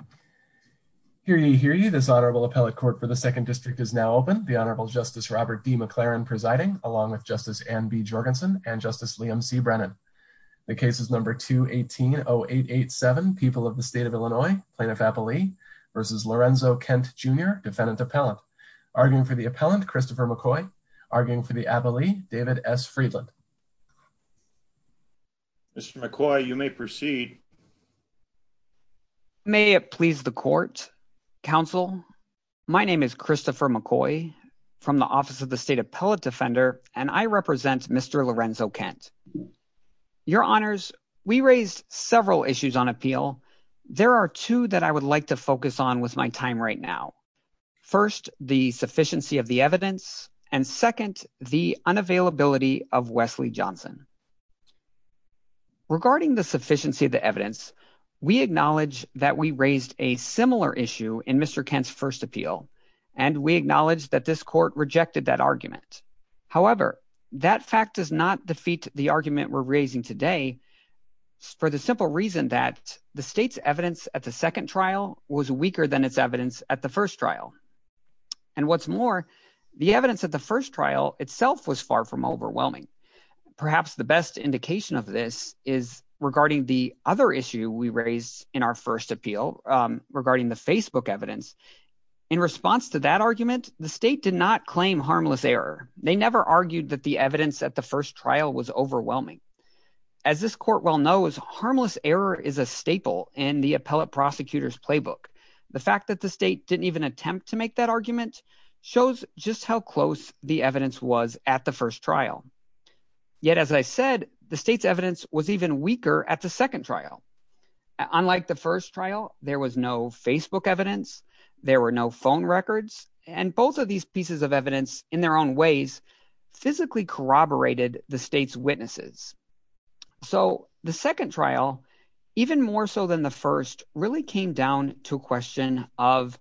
McClaren. Hear ye, hear ye. This Honorable Appellate Court for the Second District is now open. The Honorable Justice Robert D. McClaren presiding, along with Justice Anne B. Jorgensen and Justice Liam C. Brennan. The case is number 2180887, People of the State of Illinois, Plaintiff Appellee v. Lorenzo Kent Jr., Defendant Appellant. Arguing for the Appellant, Christopher McCoy. Arguing for the Appellee, David S. Friedland. Mr. McCoy, you may proceed. May it please the Court, Counsel, my name is Christopher McCoy from the Office of the State Appellate Defender, and I represent Mr. Lorenzo Kent. Your Honors, we raised several issues on appeal. There are two that I would like to focus on with my time right now. First, the sufficiency of the evidence, and second, the unavailability of Wesley Johnson. Regarding the sufficiency of the evidence, we acknowledge that we raised a similar issue in Mr. Kent's first appeal, and we acknowledge that this Court rejected that argument. However, that fact does not defeat the argument we're raising today for the simple reason that the State's evidence at the second trial was weaker than its evidence at the first trial. And what's more, the evidence at the first trial itself was far from overwhelming. Perhaps the best indication of this is regarding the other issue we raised in our first appeal regarding the Facebook evidence. In response to that argument, the State did not claim harmless error. They never argued that the evidence at the first trial was overwhelming. As this Court well knows, harmless error is a staple in the appellate prosecutor's playbook. The fact that the State didn't even attempt to make that argument shows just how close the evidence was at the first trial. Yet as I said, the State's evidence was even weaker at the second trial. Unlike the first trial, there was no Facebook evidence, there were no phone records, and both of these pieces of evidence in their own ways physically corroborated the State's witnesses. So the second trial, even more so than the first, really came down to a question of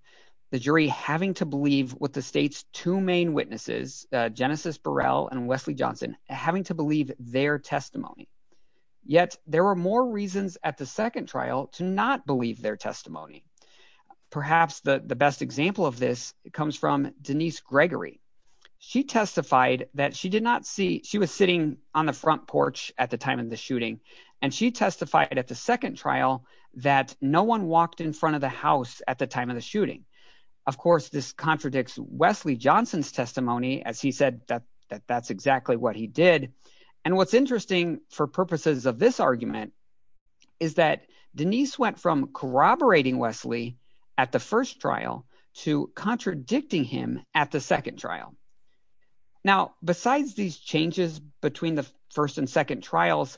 the jury having to believe what the State's two main witnesses, Genesis Burrell and Wesley Johnson, having to believe their testimony. Yet there were more reasons at the second trial to not believe their testimony. Perhaps the best example of this comes from Denise Gregory. She testified that she was sitting on the front porch at the time of the shooting, and she testified at the second trial that no one walked in front of the house at the time of the shooting. Of course, this contradicts Wesley Johnson's testimony, as he said that that's exactly what he did. And what's interesting for purposes of this argument is that Denise went from corroborating Wesley at the first trial to contradicting him at the second trial. Now, besides these changes between the first and second trials,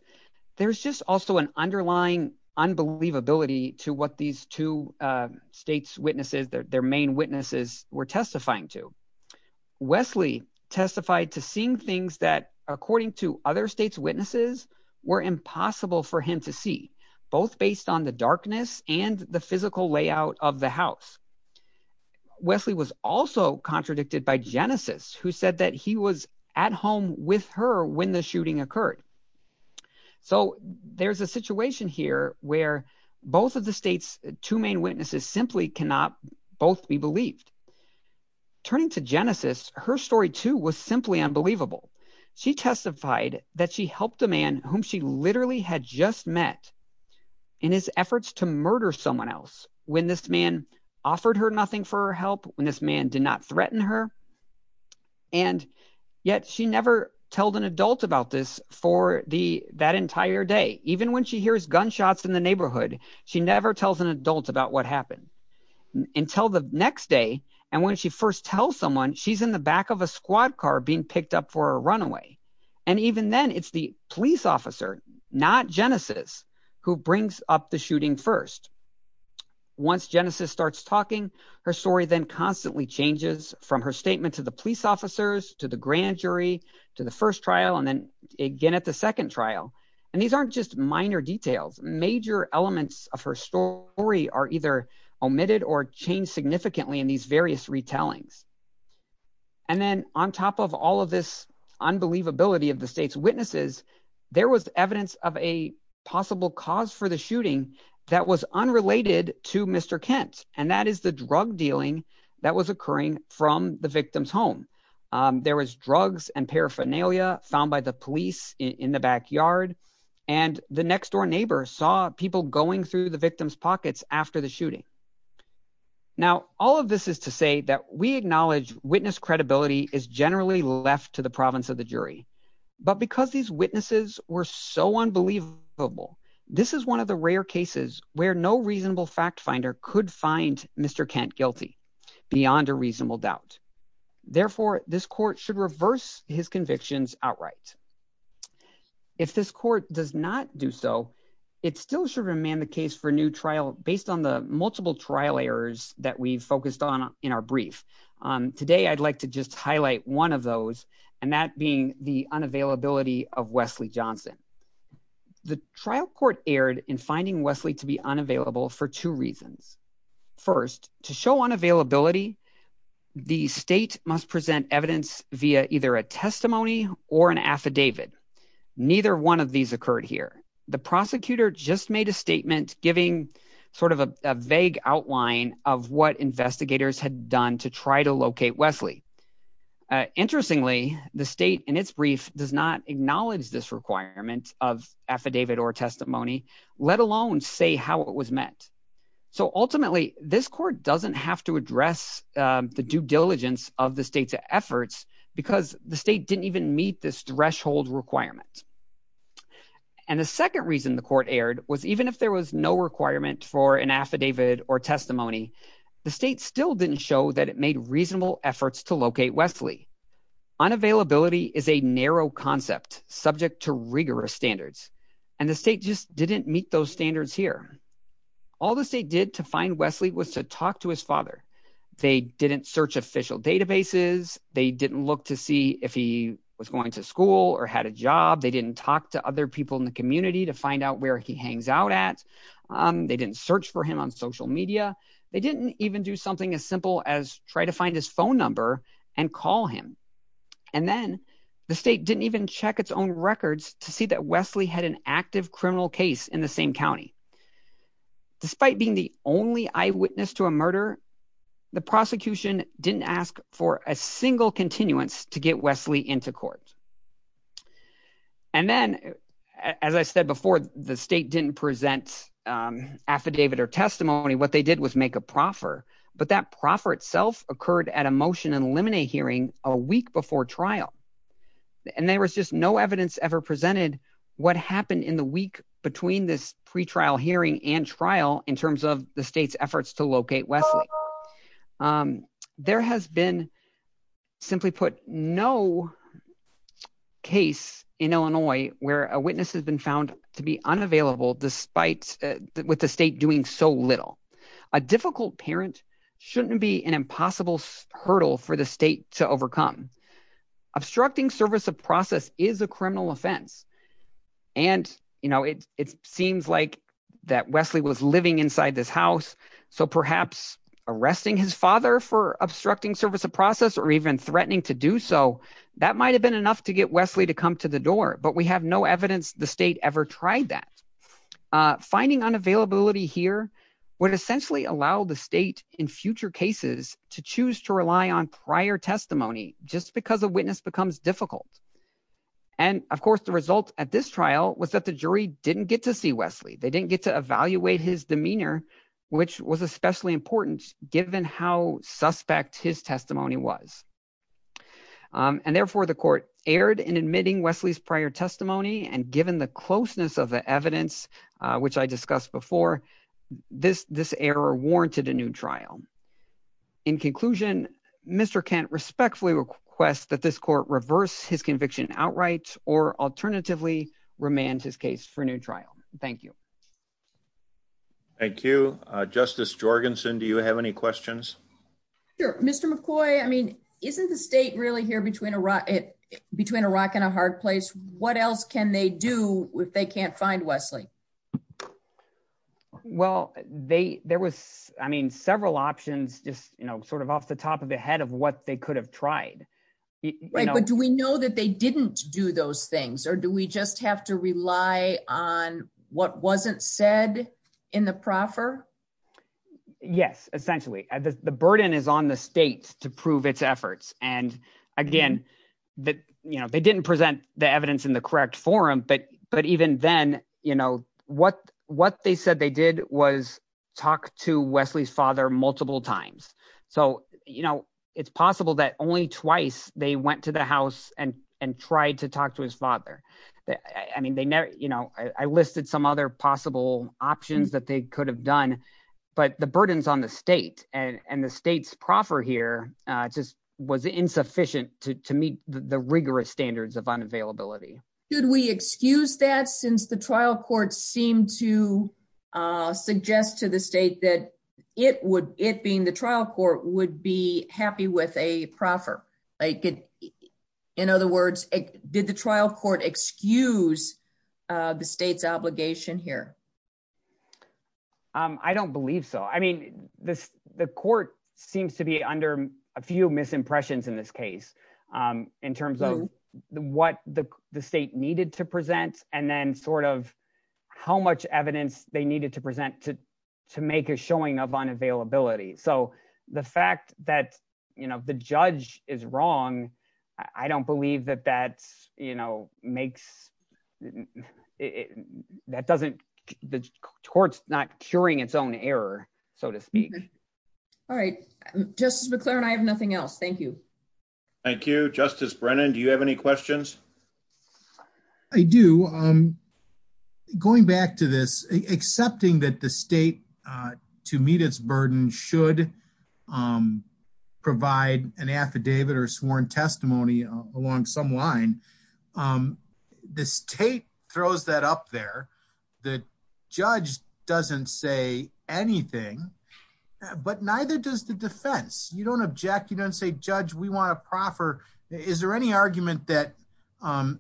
there's just also an underlying unbelievability to what these two State's witnesses, their main witnesses, were testifying to. Wesley testified to seeing things that, according to other State's witnesses, were impossible for him to see, both based on the darkness and the physical layout of the house. Wesley was also contradicted by Genesis, who said that he was at home with her when the shooting occurred. So there's a situation here where both of the State's two main witnesses simply cannot both be believed. Turning to Genesis, her story too was simply unbelievable. She testified that she helped a man whom she literally had just met in his efforts to murder someone else when this man offered her nothing for her help, when this man did not threaten her. And yet she never told an adult about this for that entire day. Even when she hears gunshots in the neighborhood, she never tells an adult about what happened. Until the next day, and when she first tells someone, she's in the back of a squad car being picked up for a runaway. And even then, it's the police officer, not Genesis, who brings up the shooting first. Once Genesis starts talking, her story then constantly changes from her statement to the police officers, to the grand jury, to the first trial, and then again at the second trial. And these aren't just minor details. Major elements of her story are either omitted or changed significantly in these various retellings. And then on top of all of this unbelievability of the State's witnesses, there was evidence of a possible cause for the shooting that was unrelated to Mr. Kent. And that is the drug dealing that was occurring from the victim's home. There was drugs and paraphernalia found by the police in the backyard. And the next door neighbor saw people going through the victim's pockets after the shooting. Now, all of this is to say that we acknowledge witness credibility is generally left to the province of the jury. But because these witnesses were so unbelievable, this is one of the rare cases where no reasonable fact finder could find Mr. Kent guilty beyond a reasonable doubt. Therefore, this court should reverse his convictions outright. If this court does not do so, it still should remain the case for new trial based on the multiple trial errors that we've focused on in our brief. Today I'd like to just highlight one of those, and that being the unavailability of Wesley Johnson. The trial court erred in finding Wesley to be unavailable for two reasons. First, to show unavailability, the state must present evidence via either a testimony or an affidavit. Neither one of these occurred here. The prosecutor just made a statement giving sort of a vague outline of what investigators had done to try to locate Wesley. Interestingly, the state in its brief does not acknowledge this requirement of affidavit or testimony, let alone say how it was met. So ultimately, this court doesn't have to address the due diligence of the state's efforts because the state didn't even meet this threshold requirement. And the second reason the court erred was even if there was no requirement for an affidavit or testimony, the state still didn't show that it made reasonable efforts to locate Wesley. Unavailability is a narrow concept subject to rigorous standards, and the state just didn't meet those standards here. All the state did to find Wesley was to talk to his father. They didn't search official databases. They didn't look to see if he was going to school or had a job. They didn't talk to other people in the community to find out where he hangs out at. They didn't search for him on social media. They didn't even do something as simple as try to find his phone number and call him. And then the state didn't even check its own records to see that Wesley had an active criminal case in the same county. Despite being the only eyewitness to a murder, the prosecution didn't ask for a single continuance to get Wesley into court. And then, as I said before, the state didn't present affidavit or testimony. What they did was make a proffer, but that proffer itself occurred at a motion and eliminate hearing a week before trial. And there was just no evidence ever presented what happened in the week between this pretrial hearing and trial in terms of the state's efforts to locate Wesley. There has been, simply put, no case in Illinois where a witness has been found to be unavailable despite the state doing so little. A difficult parent shouldn't be an impossible hurdle for the state to overcome. Obstructing service of process is a criminal offense, and it seems like that Wesley was living inside this house. So perhaps arresting his father for obstructing service of process or even threatening to do so, that might have been enough to get Wesley to come to the door. But we have no evidence the state ever tried that. Finding unavailability here would essentially allow the state in future cases to choose to rely on prior testimony just because a witness becomes difficult. And, of course, the result at this trial was that the jury didn't get to see Wesley. They didn't get to evaluate his demeanor, which was especially important given how suspect his testimony was. And therefore, the court erred in admitting Wesley's prior testimony. And given the closeness of the evidence, which I discussed before, this error warranted a new trial. In conclusion, Mr. Kent respectfully requests that this court reverse his conviction outright or alternatively remand his case for a new trial. Thank you. Thank you. Justice Jorgensen, do you have any questions? Sure. Mr. McCoy, I mean, isn't the state really here between Iraq and a hard place? What else can they do if they can't find Wesley? Well, there was, I mean, several options just sort of off the top of the head of what they could have tried. Right. But do we know that they didn't do those things or do we just have to rely on what wasn't said in the proffer? Yes, essentially, the burden is on the state to prove its efforts. And again, that they didn't present the evidence in the correct forum. But but even then, you know what what they said they did was talk to Wesley's father multiple times. So, you know, it's possible that only twice they went to the house and and tried to talk to his father. I mean, they know, you know, I listed some other possible options that they could have done. But the burdens on the state and the state's proffer here just was insufficient to meet the rigorous standards of unavailability. Could we excuse that since the trial court seemed to suggest to the state that it would it being the trial court would be happy with a proffer? In other words, did the trial court excuse the state's obligation here? I don't believe so. I mean, this the court seems to be under a few misimpressions in this case in terms of what the state needed to present. And then sort of how much evidence they needed to present to to make a showing of unavailability. So the fact that, you know, the judge is wrong, I don't believe that that's, you know, makes it. That doesn't the court's not curing its own error, so to speak. All right. Justice McLaren, I have nothing else. Thank you. Thank you, Justice Brennan. Do you have any questions? I do. I'm going back to this, accepting that the state to meet its burden should provide an affidavit or sworn testimony along some line. The state throws that up there. The judge doesn't say anything. But neither does the defense. You don't object. You don't say, Judge, we want a proffer. Is there any argument that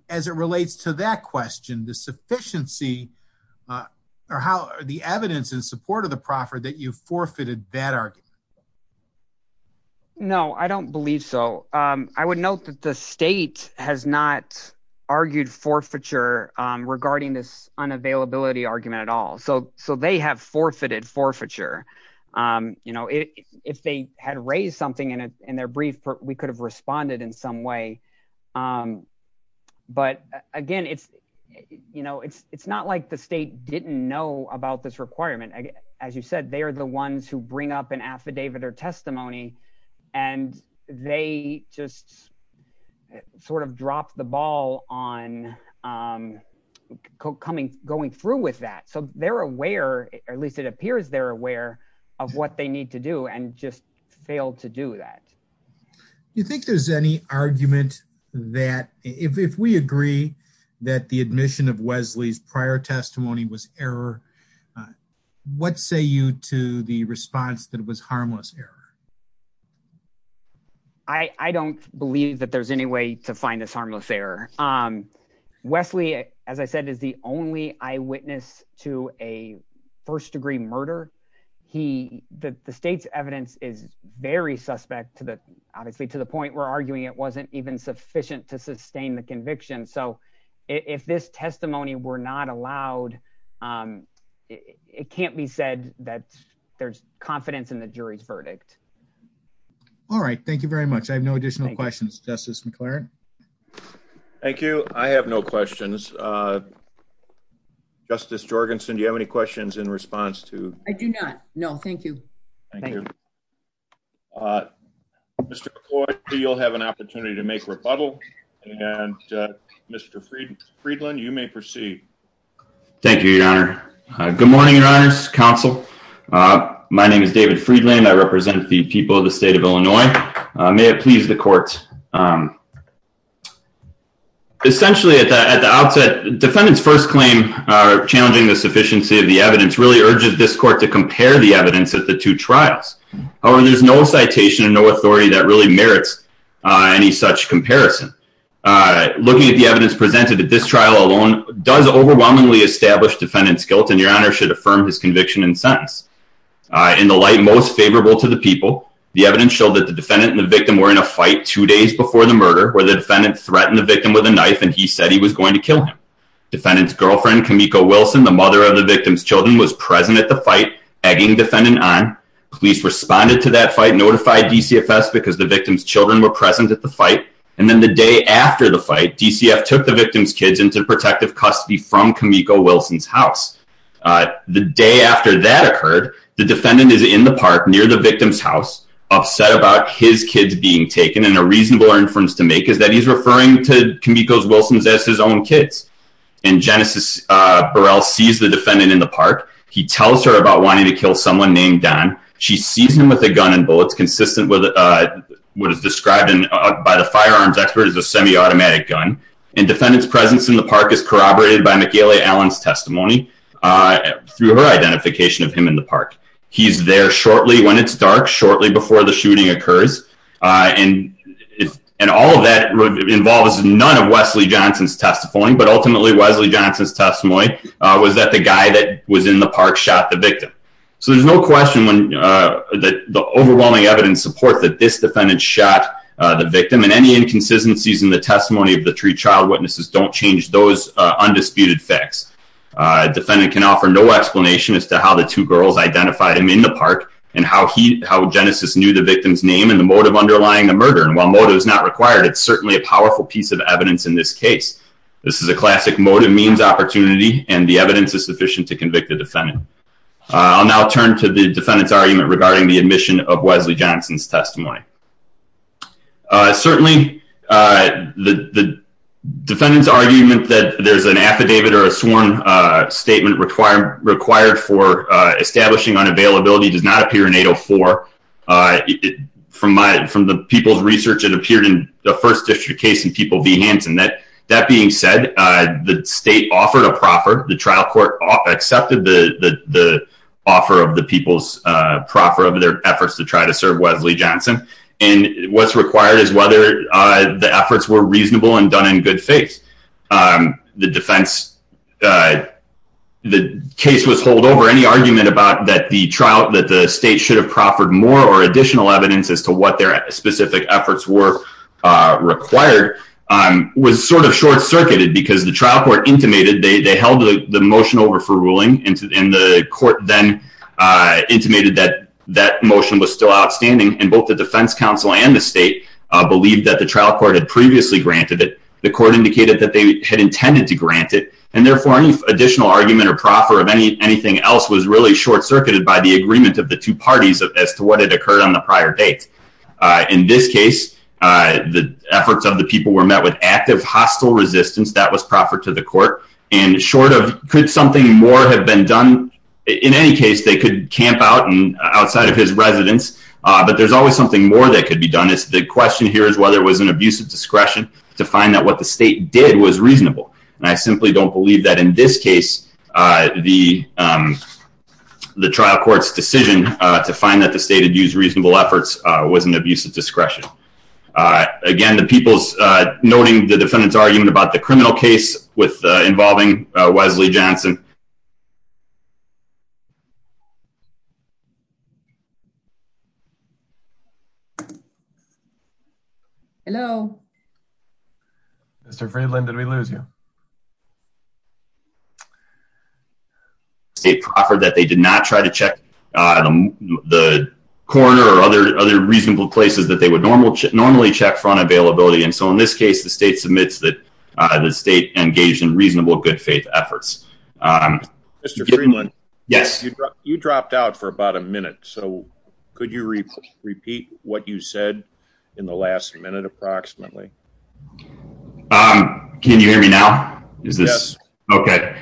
as it relates to that question, the sufficiency or how the evidence in support of the proffer that you forfeited that argument? No, I don't believe so. I would note that the state has not argued forfeiture regarding this unavailability argument at all. So so they have forfeited forfeiture. You know, if they had raised something in their brief, we could have responded in some way. But again, it's you know, it's it's not like the state didn't know about this requirement. As you said, they are the ones who bring up an affidavit or testimony and they just sort of drop the ball on coming going through with that. So they're aware or at least it appears they're aware of what they need to do and just fail to do that. You think there's any argument that if we agree that the admission of Wesley's prior testimony was error, what say you to the response that was harmless error? I don't believe that there's any way to find this harmless error. Wesley, as I said, is the only eyewitness to a first degree murder. He the state's evidence is very suspect to the obviously to the point where arguing it wasn't even sufficient to sustain the conviction. So if this testimony were not allowed, it can't be said that there's confidence in the jury's verdict. All right. Thank you very much. I have no additional questions. Justice McLaren. Thank you. I have no questions. Justice Jorgensen, do you have any questions in response to. I do not know. Thank you. Thank you. Mr. McCoy, you'll have an opportunity to make rebuttal. And Mr. Friedland, you may proceed. Thank you, Your Honor. Good morning, Your Honor's counsel. My name is David Friedland. I represent the people of the state of Illinois. May it please the court. Essentially, at the outset, defendants first claim challenging the sufficiency of the evidence really urges this court to compare the evidence at the two trials. However, there's no citation and no authority that really merits any such comparison. Looking at the evidence presented at this trial alone does overwhelmingly establish defendant's guilt and Your Honor should affirm his conviction and sentence. In the light most favorable to the people, the evidence showed that the defendant and the victim were in a fight two days before the murder where the defendant threatened the victim with a knife and he said he was going to kill him. Defendant's girlfriend, Kimiko Wilson, the mother of the victim's children was present at the fight, egging defendant on. Police responded to that fight, notified DCFS because the victim's children were present at the fight. And then the day after the fight, DCF took the victim's kids into protective custody from Kimiko Wilson's house. The day after that occurred, the defendant is in the park near the victim's house, upset about his kids being taken. And a reasonable inference to make is that he's referring to Kimiko Wilson's as his own kids. And Genesis Burrell sees the defendant in the park. He tells her about wanting to kill someone named Don. She sees him with a gun and bullets consistent with what is described by the firearms expert as a semi-automatic gun. And defendant's presence in the park is corroborated by Michaela Allen's testimony through her identification of him in the park. He's there shortly when it's dark, shortly before the shooting occurs. And all of that involves none of Wesley Johnson's testimony. But ultimately, Wesley Johnson's testimony was that the guy that was in the park shot the victim. So there's no question that the overwhelming evidence supports that this defendant shot the victim. And any inconsistencies in the testimony of the three child witnesses don't change those undisputed facts. A defendant can offer no explanation as to how the two girls identified him in the park, and how he, how Genesis knew the victim's name and the motive underlying the murder. And while motive is not required, it's certainly a powerful piece of evidence in this case. This is a classic motive means opportunity, and the evidence is sufficient to convict the defendant. I'll now turn to the defendant's argument regarding the admission of Wesley Johnson's testimony. Certainly, the defendant's argument that there's an affidavit or a sworn statement required for establishing unavailability does not appear in 804. From the people's research, it appeared in the first district case in People v. Hanson. That being said, the state offered a proffer. The trial court accepted the offer of the people's proffer of their efforts to try to serve Wesley Johnson. And what's required is whether the efforts were reasonable and done in good faith. The defense, the case was hold over. Any argument about that the trial, that the state should have proffered more or additional evidence as to what their specific efforts were required, was sort of short-circuited because the trial court intimated, they held the motion over for ruling, and the court then intimated that that motion was still outstanding. And both the defense counsel and the state believed that the trial court had previously granted it. The court indicated that they had intended to grant it. And therefore, any additional argument or proffer of anything else was really short-circuited by the agreement of the two parties as to what had occurred on the prior date. In this case, the efforts of the people were met with active hostile resistance. That was proffered to the court. And short of, could something more have been done? In any case, they could camp out outside of his residence. There's always something more that could be done. The question here is whether it was an abuse of discretion to find out what the state did was reasonable. And I simply don't believe that in this case, the trial court's decision to find that the state had used reasonable efforts was an abuse of discretion. Again, the people's noting the defendant's argument about the criminal case involving Wesley Johnson. Hello? Mr. Friedland, did we lose you? State proffered that they did not try to check the corridor or other reasonable places that they would normally check for unavailability. And so in this case, the state submits that the state engaged in reasonable good faith efforts. Mr. Friedland? Yes. You dropped out for about a minute. So could you repeat what you said in the last minute approximately? Can you hear me now? Yes. Okay.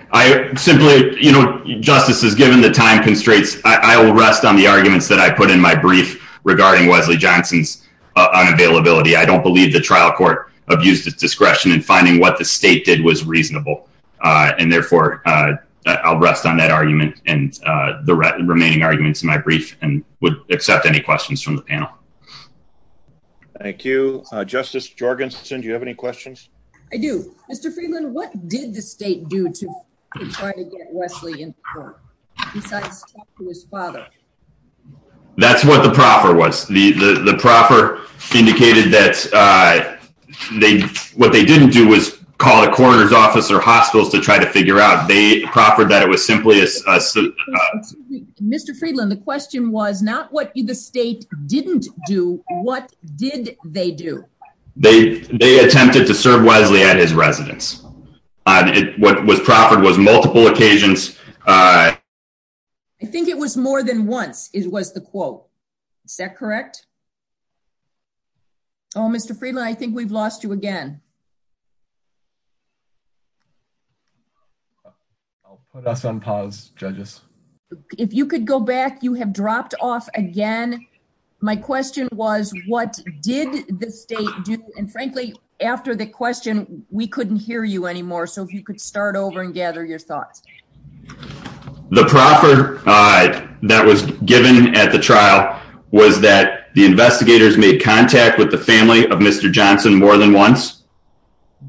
Justice, as given the time constraints, I will rest on the arguments that I put in my brief regarding Wesley Johnson's unavailability. I don't believe the trial court abused its discretion in finding what the state did was reasonable. And therefore, I'll rest on that argument and the remaining arguments in my brief and would accept any questions from the panel. Thank you. Justice Jorgensen, do you have any questions? I do. Mr. Friedland, what did the state do to try to get Wesley in court? Besides talk to his father? That's what the proffer was. The proffer indicated that what they didn't do was call the coroner's office or hospitals to try to figure out. They proffered that it was simply a... Mr. Friedland, the question was not what the state didn't do. What did they do? They attempted to serve Wesley at his residence. What was proffered was multiple occasions. I think it was more than once was the quote. Is that correct? Oh, Mr. Friedland, I think we've lost you again. I'll put us on pause, judges. If you could go back, you have dropped off again. My question was, what did the state do? And frankly, after the question, we couldn't hear you anymore. So if you could start over and gather your thoughts. The proffer that was given at the trial was that the investigators made contact with the family of Mr. Johnson more than once.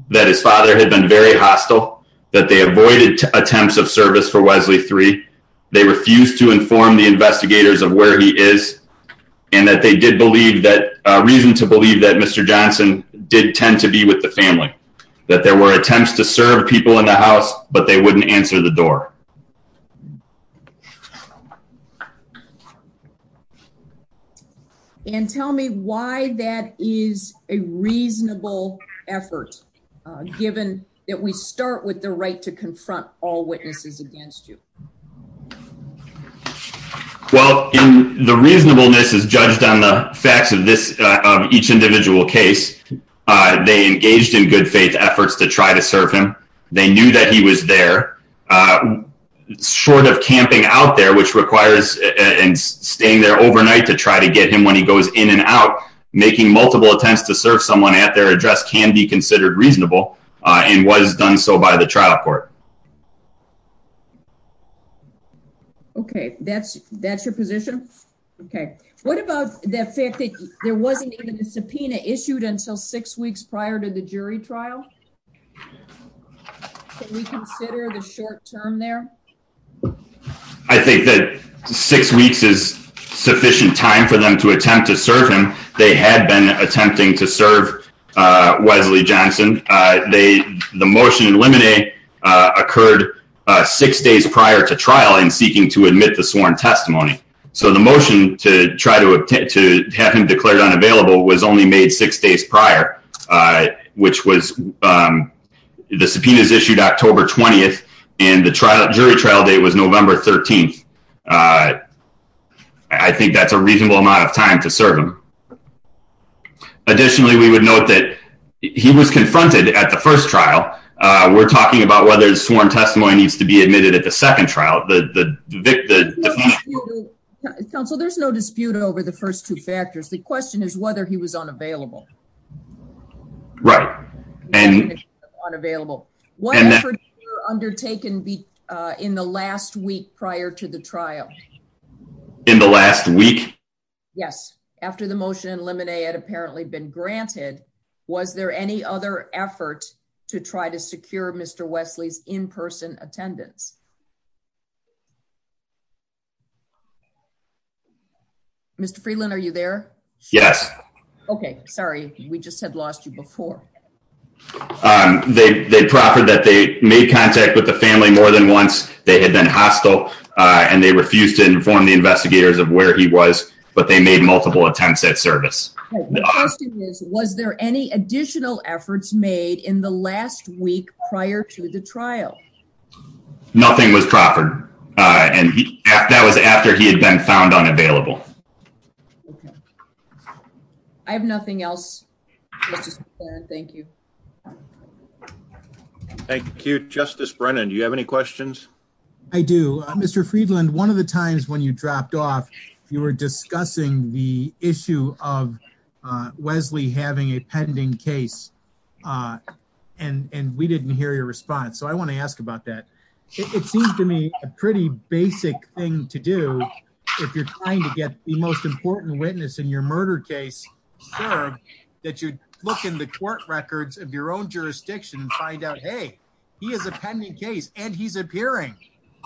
That his father had been very hostile. That they avoided attempts of service for Wesley III. They refused to inform the investigators of where he is. And that they did believe that... reason to believe that Mr. Johnson did tend to be with the family. That there were attempts to serve people in the house, but they wouldn't answer the door. And tell me why that is a reasonable effort, given that we start with the right to confront all witnesses against you. Well, the reasonableness is judged on the facts of each individual case. They engaged in good faith efforts to try to serve him. They knew that he was there. Short of camping out there, which requires staying there overnight to try to get him when he goes in and out. Making multiple attempts to serve someone at their address can be considered reasonable. And was done so by the trial court. Okay, that's your position? Okay, what about the fact that there wasn't even a subpoena issued until six weeks prior to the jury trial? Can we consider the short term there? I think that six weeks is sufficient time for them to attempt to serve him. They had been attempting to serve Wesley Johnson. The motion in limine occurred six days prior to trial in seeking to admit the sworn testimony. The motion to try to attempt to have him declared unavailable was only made six days prior. Which was the subpoenas issued October 20th and the jury trial date was November 13th. I think that's a reasonable amount of time to serve him. Additionally, we would note that he was confronted at the first trial. We're talking about whether the sworn testimony needs to be admitted at the second trial. Counsel, there's no dispute over the first two factors. The question is whether he was unavailable. Right. Unavailable. What efforts were undertaken in the last week prior to the trial? In the last week? Yes, after the motion in limine had apparently been granted. Was there any other effort to try to secure Mr. Wesley's in-person attendance? Mr. Freeland, are you there? Yes. Okay, sorry. We just had lost you before. They proffered that they made contact with the family more than once. They had been hostile and they refused to inform the investigators of where he was. But they made multiple attempts at service. The question is was there any additional efforts made in the last week prior to the trial? No. Nothing was proffered. That was after he had been found unavailable. Okay. I have nothing else. Thank you. Thank you. Justice Brennan, do you have any questions? I do. Mr. Freeland, one of the times when you dropped off, you were discussing the issue of Wesley having a pending case. And we didn't hear your response. So I want to ask about that. It seems to me a pretty basic thing to do if you're trying to get the most important witness in your murder case served, that you look in the court records of your own jurisdiction and find out, hey, he has a pending case and he's appearing.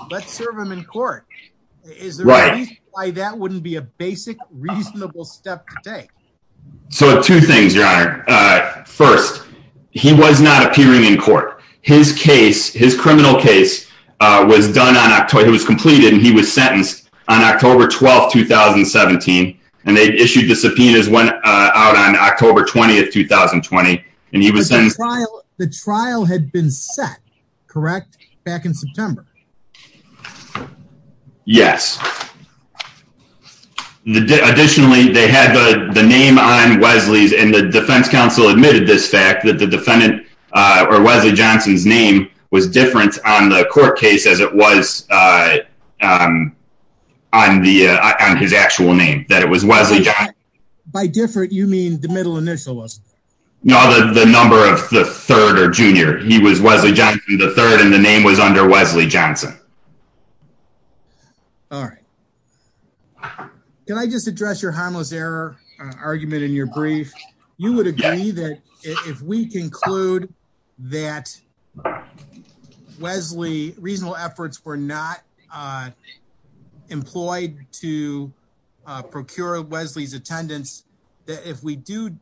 Let's serve him in court. Is there a reason why that wouldn't be a basic, reasonable step to take? So two things, Your Honor. First, he was not appearing in court. His case, his criminal case, was completed and he was sentenced on October 12, 2017. And they issued the subpoenas out on October 20, 2020. The trial had been set, correct? Back in September? Yes. Additionally, they had the name on Wesley's and the defense counsel admitted this fact that the defendant, or Wesley Johnson's name, was different on the court case as it was on his actual name. That it was Wesley Johnson. By different, you mean the middle initial wasn't it? No, the number of the third or junior. He was Wesley Johnson III and the name was under Wesley Johnson. All right. Can I just address your harmless error argument in your brief? You would agree that if we conclude that Wesley's reasonable efforts were not employed to procure Wesley's attendance, that if we do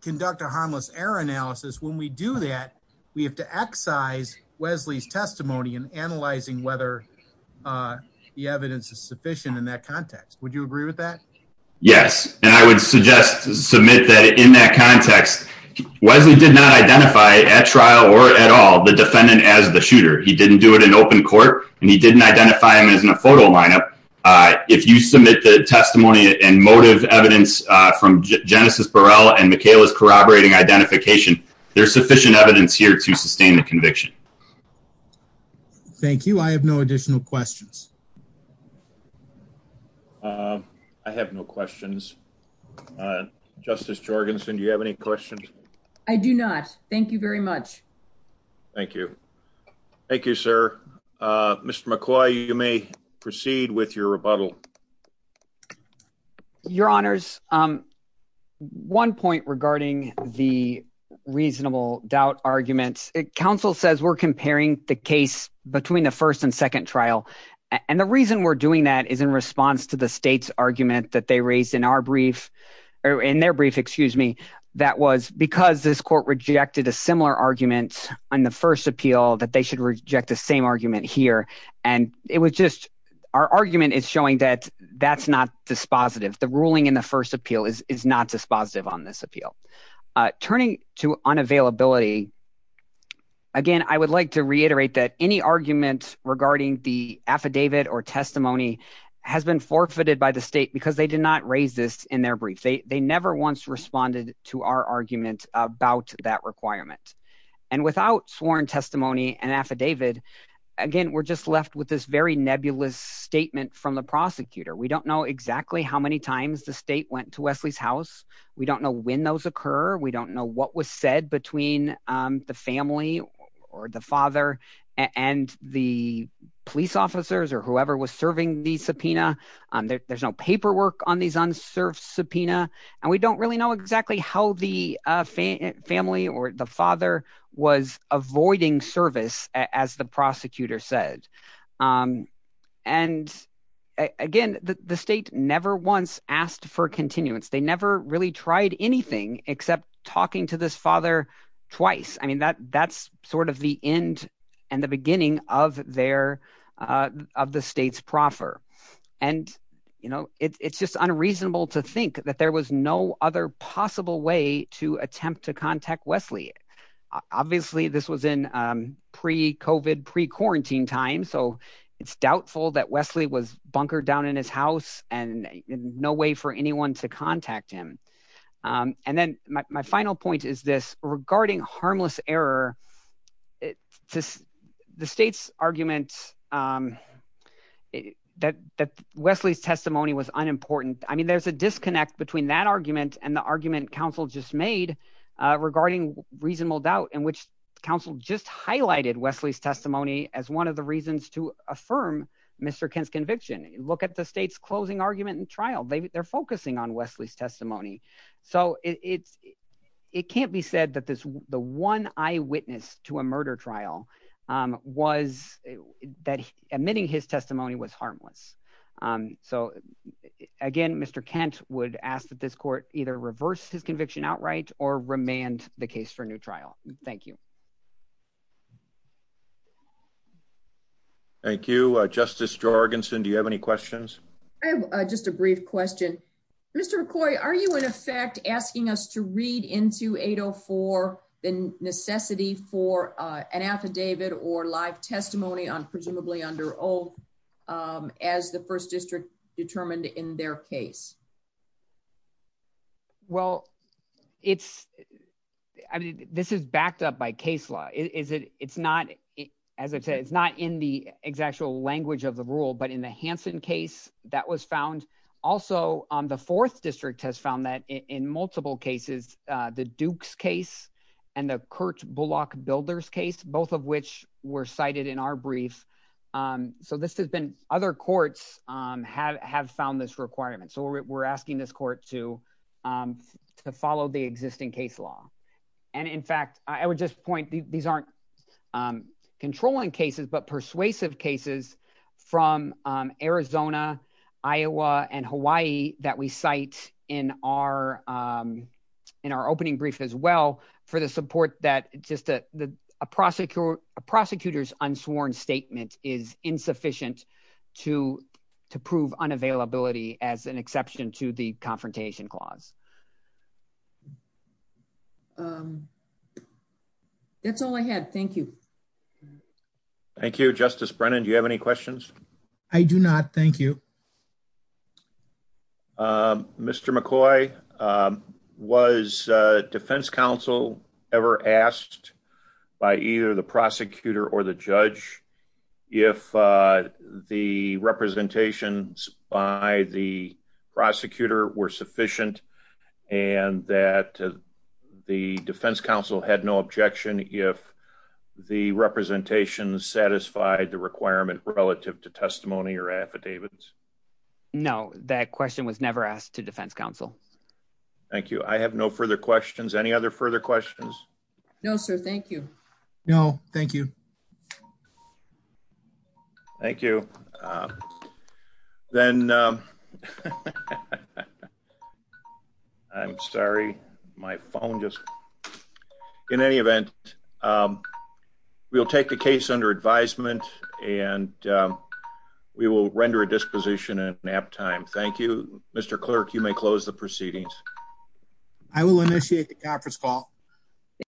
conduct a harmless error analysis, when we do that, we have to excise Wesley's testimony in analyzing whether the evidence is sufficient in that context. Would you agree with that? Yes. And I would suggest, submit that in that context, Wesley did not identify at trial or at all, the defendant as the shooter. He didn't do it in open court and he didn't identify him as in a photo lineup. If you submit the testimony and motive evidence from Genesis Burrell and Michaela's corroborating identification, there's sufficient evidence here to sustain the conviction. Thank you. I have no additional questions. I have no questions. Justice Jorgensen, do you have any questions? I do not. Thank you very much. Thank you. Thank you, sir. Mr. McCoy, you may proceed with your rebuttal. Your honors. One point regarding the reasonable doubt arguments. Council says we're comparing the case between the first and second trial and the reason we're doing that is in response to the state's argument that they raised in our brief, in their brief, excuse me, that was because this court rejected a similar argument on the first appeal that they should reject the same argument here. And it was just, our argument is showing that that's not dispositive. The ruling in the first appeal is not dispositive on this appeal. Turning to unavailability, again, I would like to reiterate that any argument regarding the affidavit or testimony has been forfeited by the state because they did not raise this in their brief. They never once responded to our argument about that requirement. And without sworn testimony and affidavit, again, we're just left with this very nebulous statement from the prosecutor. We don't know exactly how many times the state went to Wesley's house. We don't know when those occur. We don't know what was said between the family or the father and the police officers or whoever was serving the subpoena. There's no paperwork on these unserved subpoena. And we don't really know exactly how the family or the father was avoiding service, as the prosecutor said. And again, the state never once asked for continuance. They never really tried anything except talking to this father twice. I mean, that's sort of the end and the beginning of the state's proffer. And it's just unreasonable to think that there was no other possible way to attempt to contact Wesley. Obviously, this was in pre-COVID, pre-quarantine time. So it's doubtful that Wesley was bunkered down in his house and no way for anyone to contact him. And then my final point is this, regarding harmless error, the state's argument that Wesley's testimony was unimportant. I mean, there's a disconnect between that argument and the argument council just made regarding reasonable doubt in which council just highlighted Wesley's testimony as one of the reasons to affirm Mr. Kent's conviction. Look at the state's closing argument and trial. They're focusing on Wesley's testimony. So it can't be said that the one eyewitness to a murder trial was that admitting his testimony was harmless. So again, Mr. Kent would ask that this court either reverse his conviction outright or remand the case for a new trial. Thank you. Thank you. Justice Jorgensen, do you have any questions? I have just a brief question. Mr. McCoy, are you in effect asking us to read into 804 the necessity for an affidavit or live testimony on presumably under oath as the first district determined in their case? Well, it's, I mean, this is backed up by case law. It's not, as I said, it's not in the exact language of the rule, but in the Hansen case that was found, also on the fourth district has found that in multiple cases, the Dukes case and the Kurt Bullock builders case, both of which were cited in our brief. So this has been other courts have found this requirement. So we're asking this court to to follow the existing case law. And in fact, I would just point these aren't controlling cases, but persuasive cases from Arizona, Iowa, and Hawaii that we cite in our in our opening brief as well for the support that just a prosecutor's unsworn statement is insufficient to prove unavailability as an exception to the confrontation clause. That's all I had. Thank you. Thank you, Justice Brennan. Do you have any questions? I do not. Thank you. Mr. McCoy, was defense counsel ever asked by either the prosecutor or the judge if the representations by the prosecutor were sufficient and that the defense counsel had no objection if the representations satisfied the requirement relative to testimony or affidavits? No, that question was never asked to defense counsel. Thank you. I have no further questions. Any other further questions? No, sir. Thank you. No, thank you. Thank you. Then I'm sorry. My phone just went off. Thank you. Thank you. And we'll take the case under advisement and we will render a disposition at nap time. Thank you, Mr. Clerk. You may close the proceedings. I will initiate the conference call.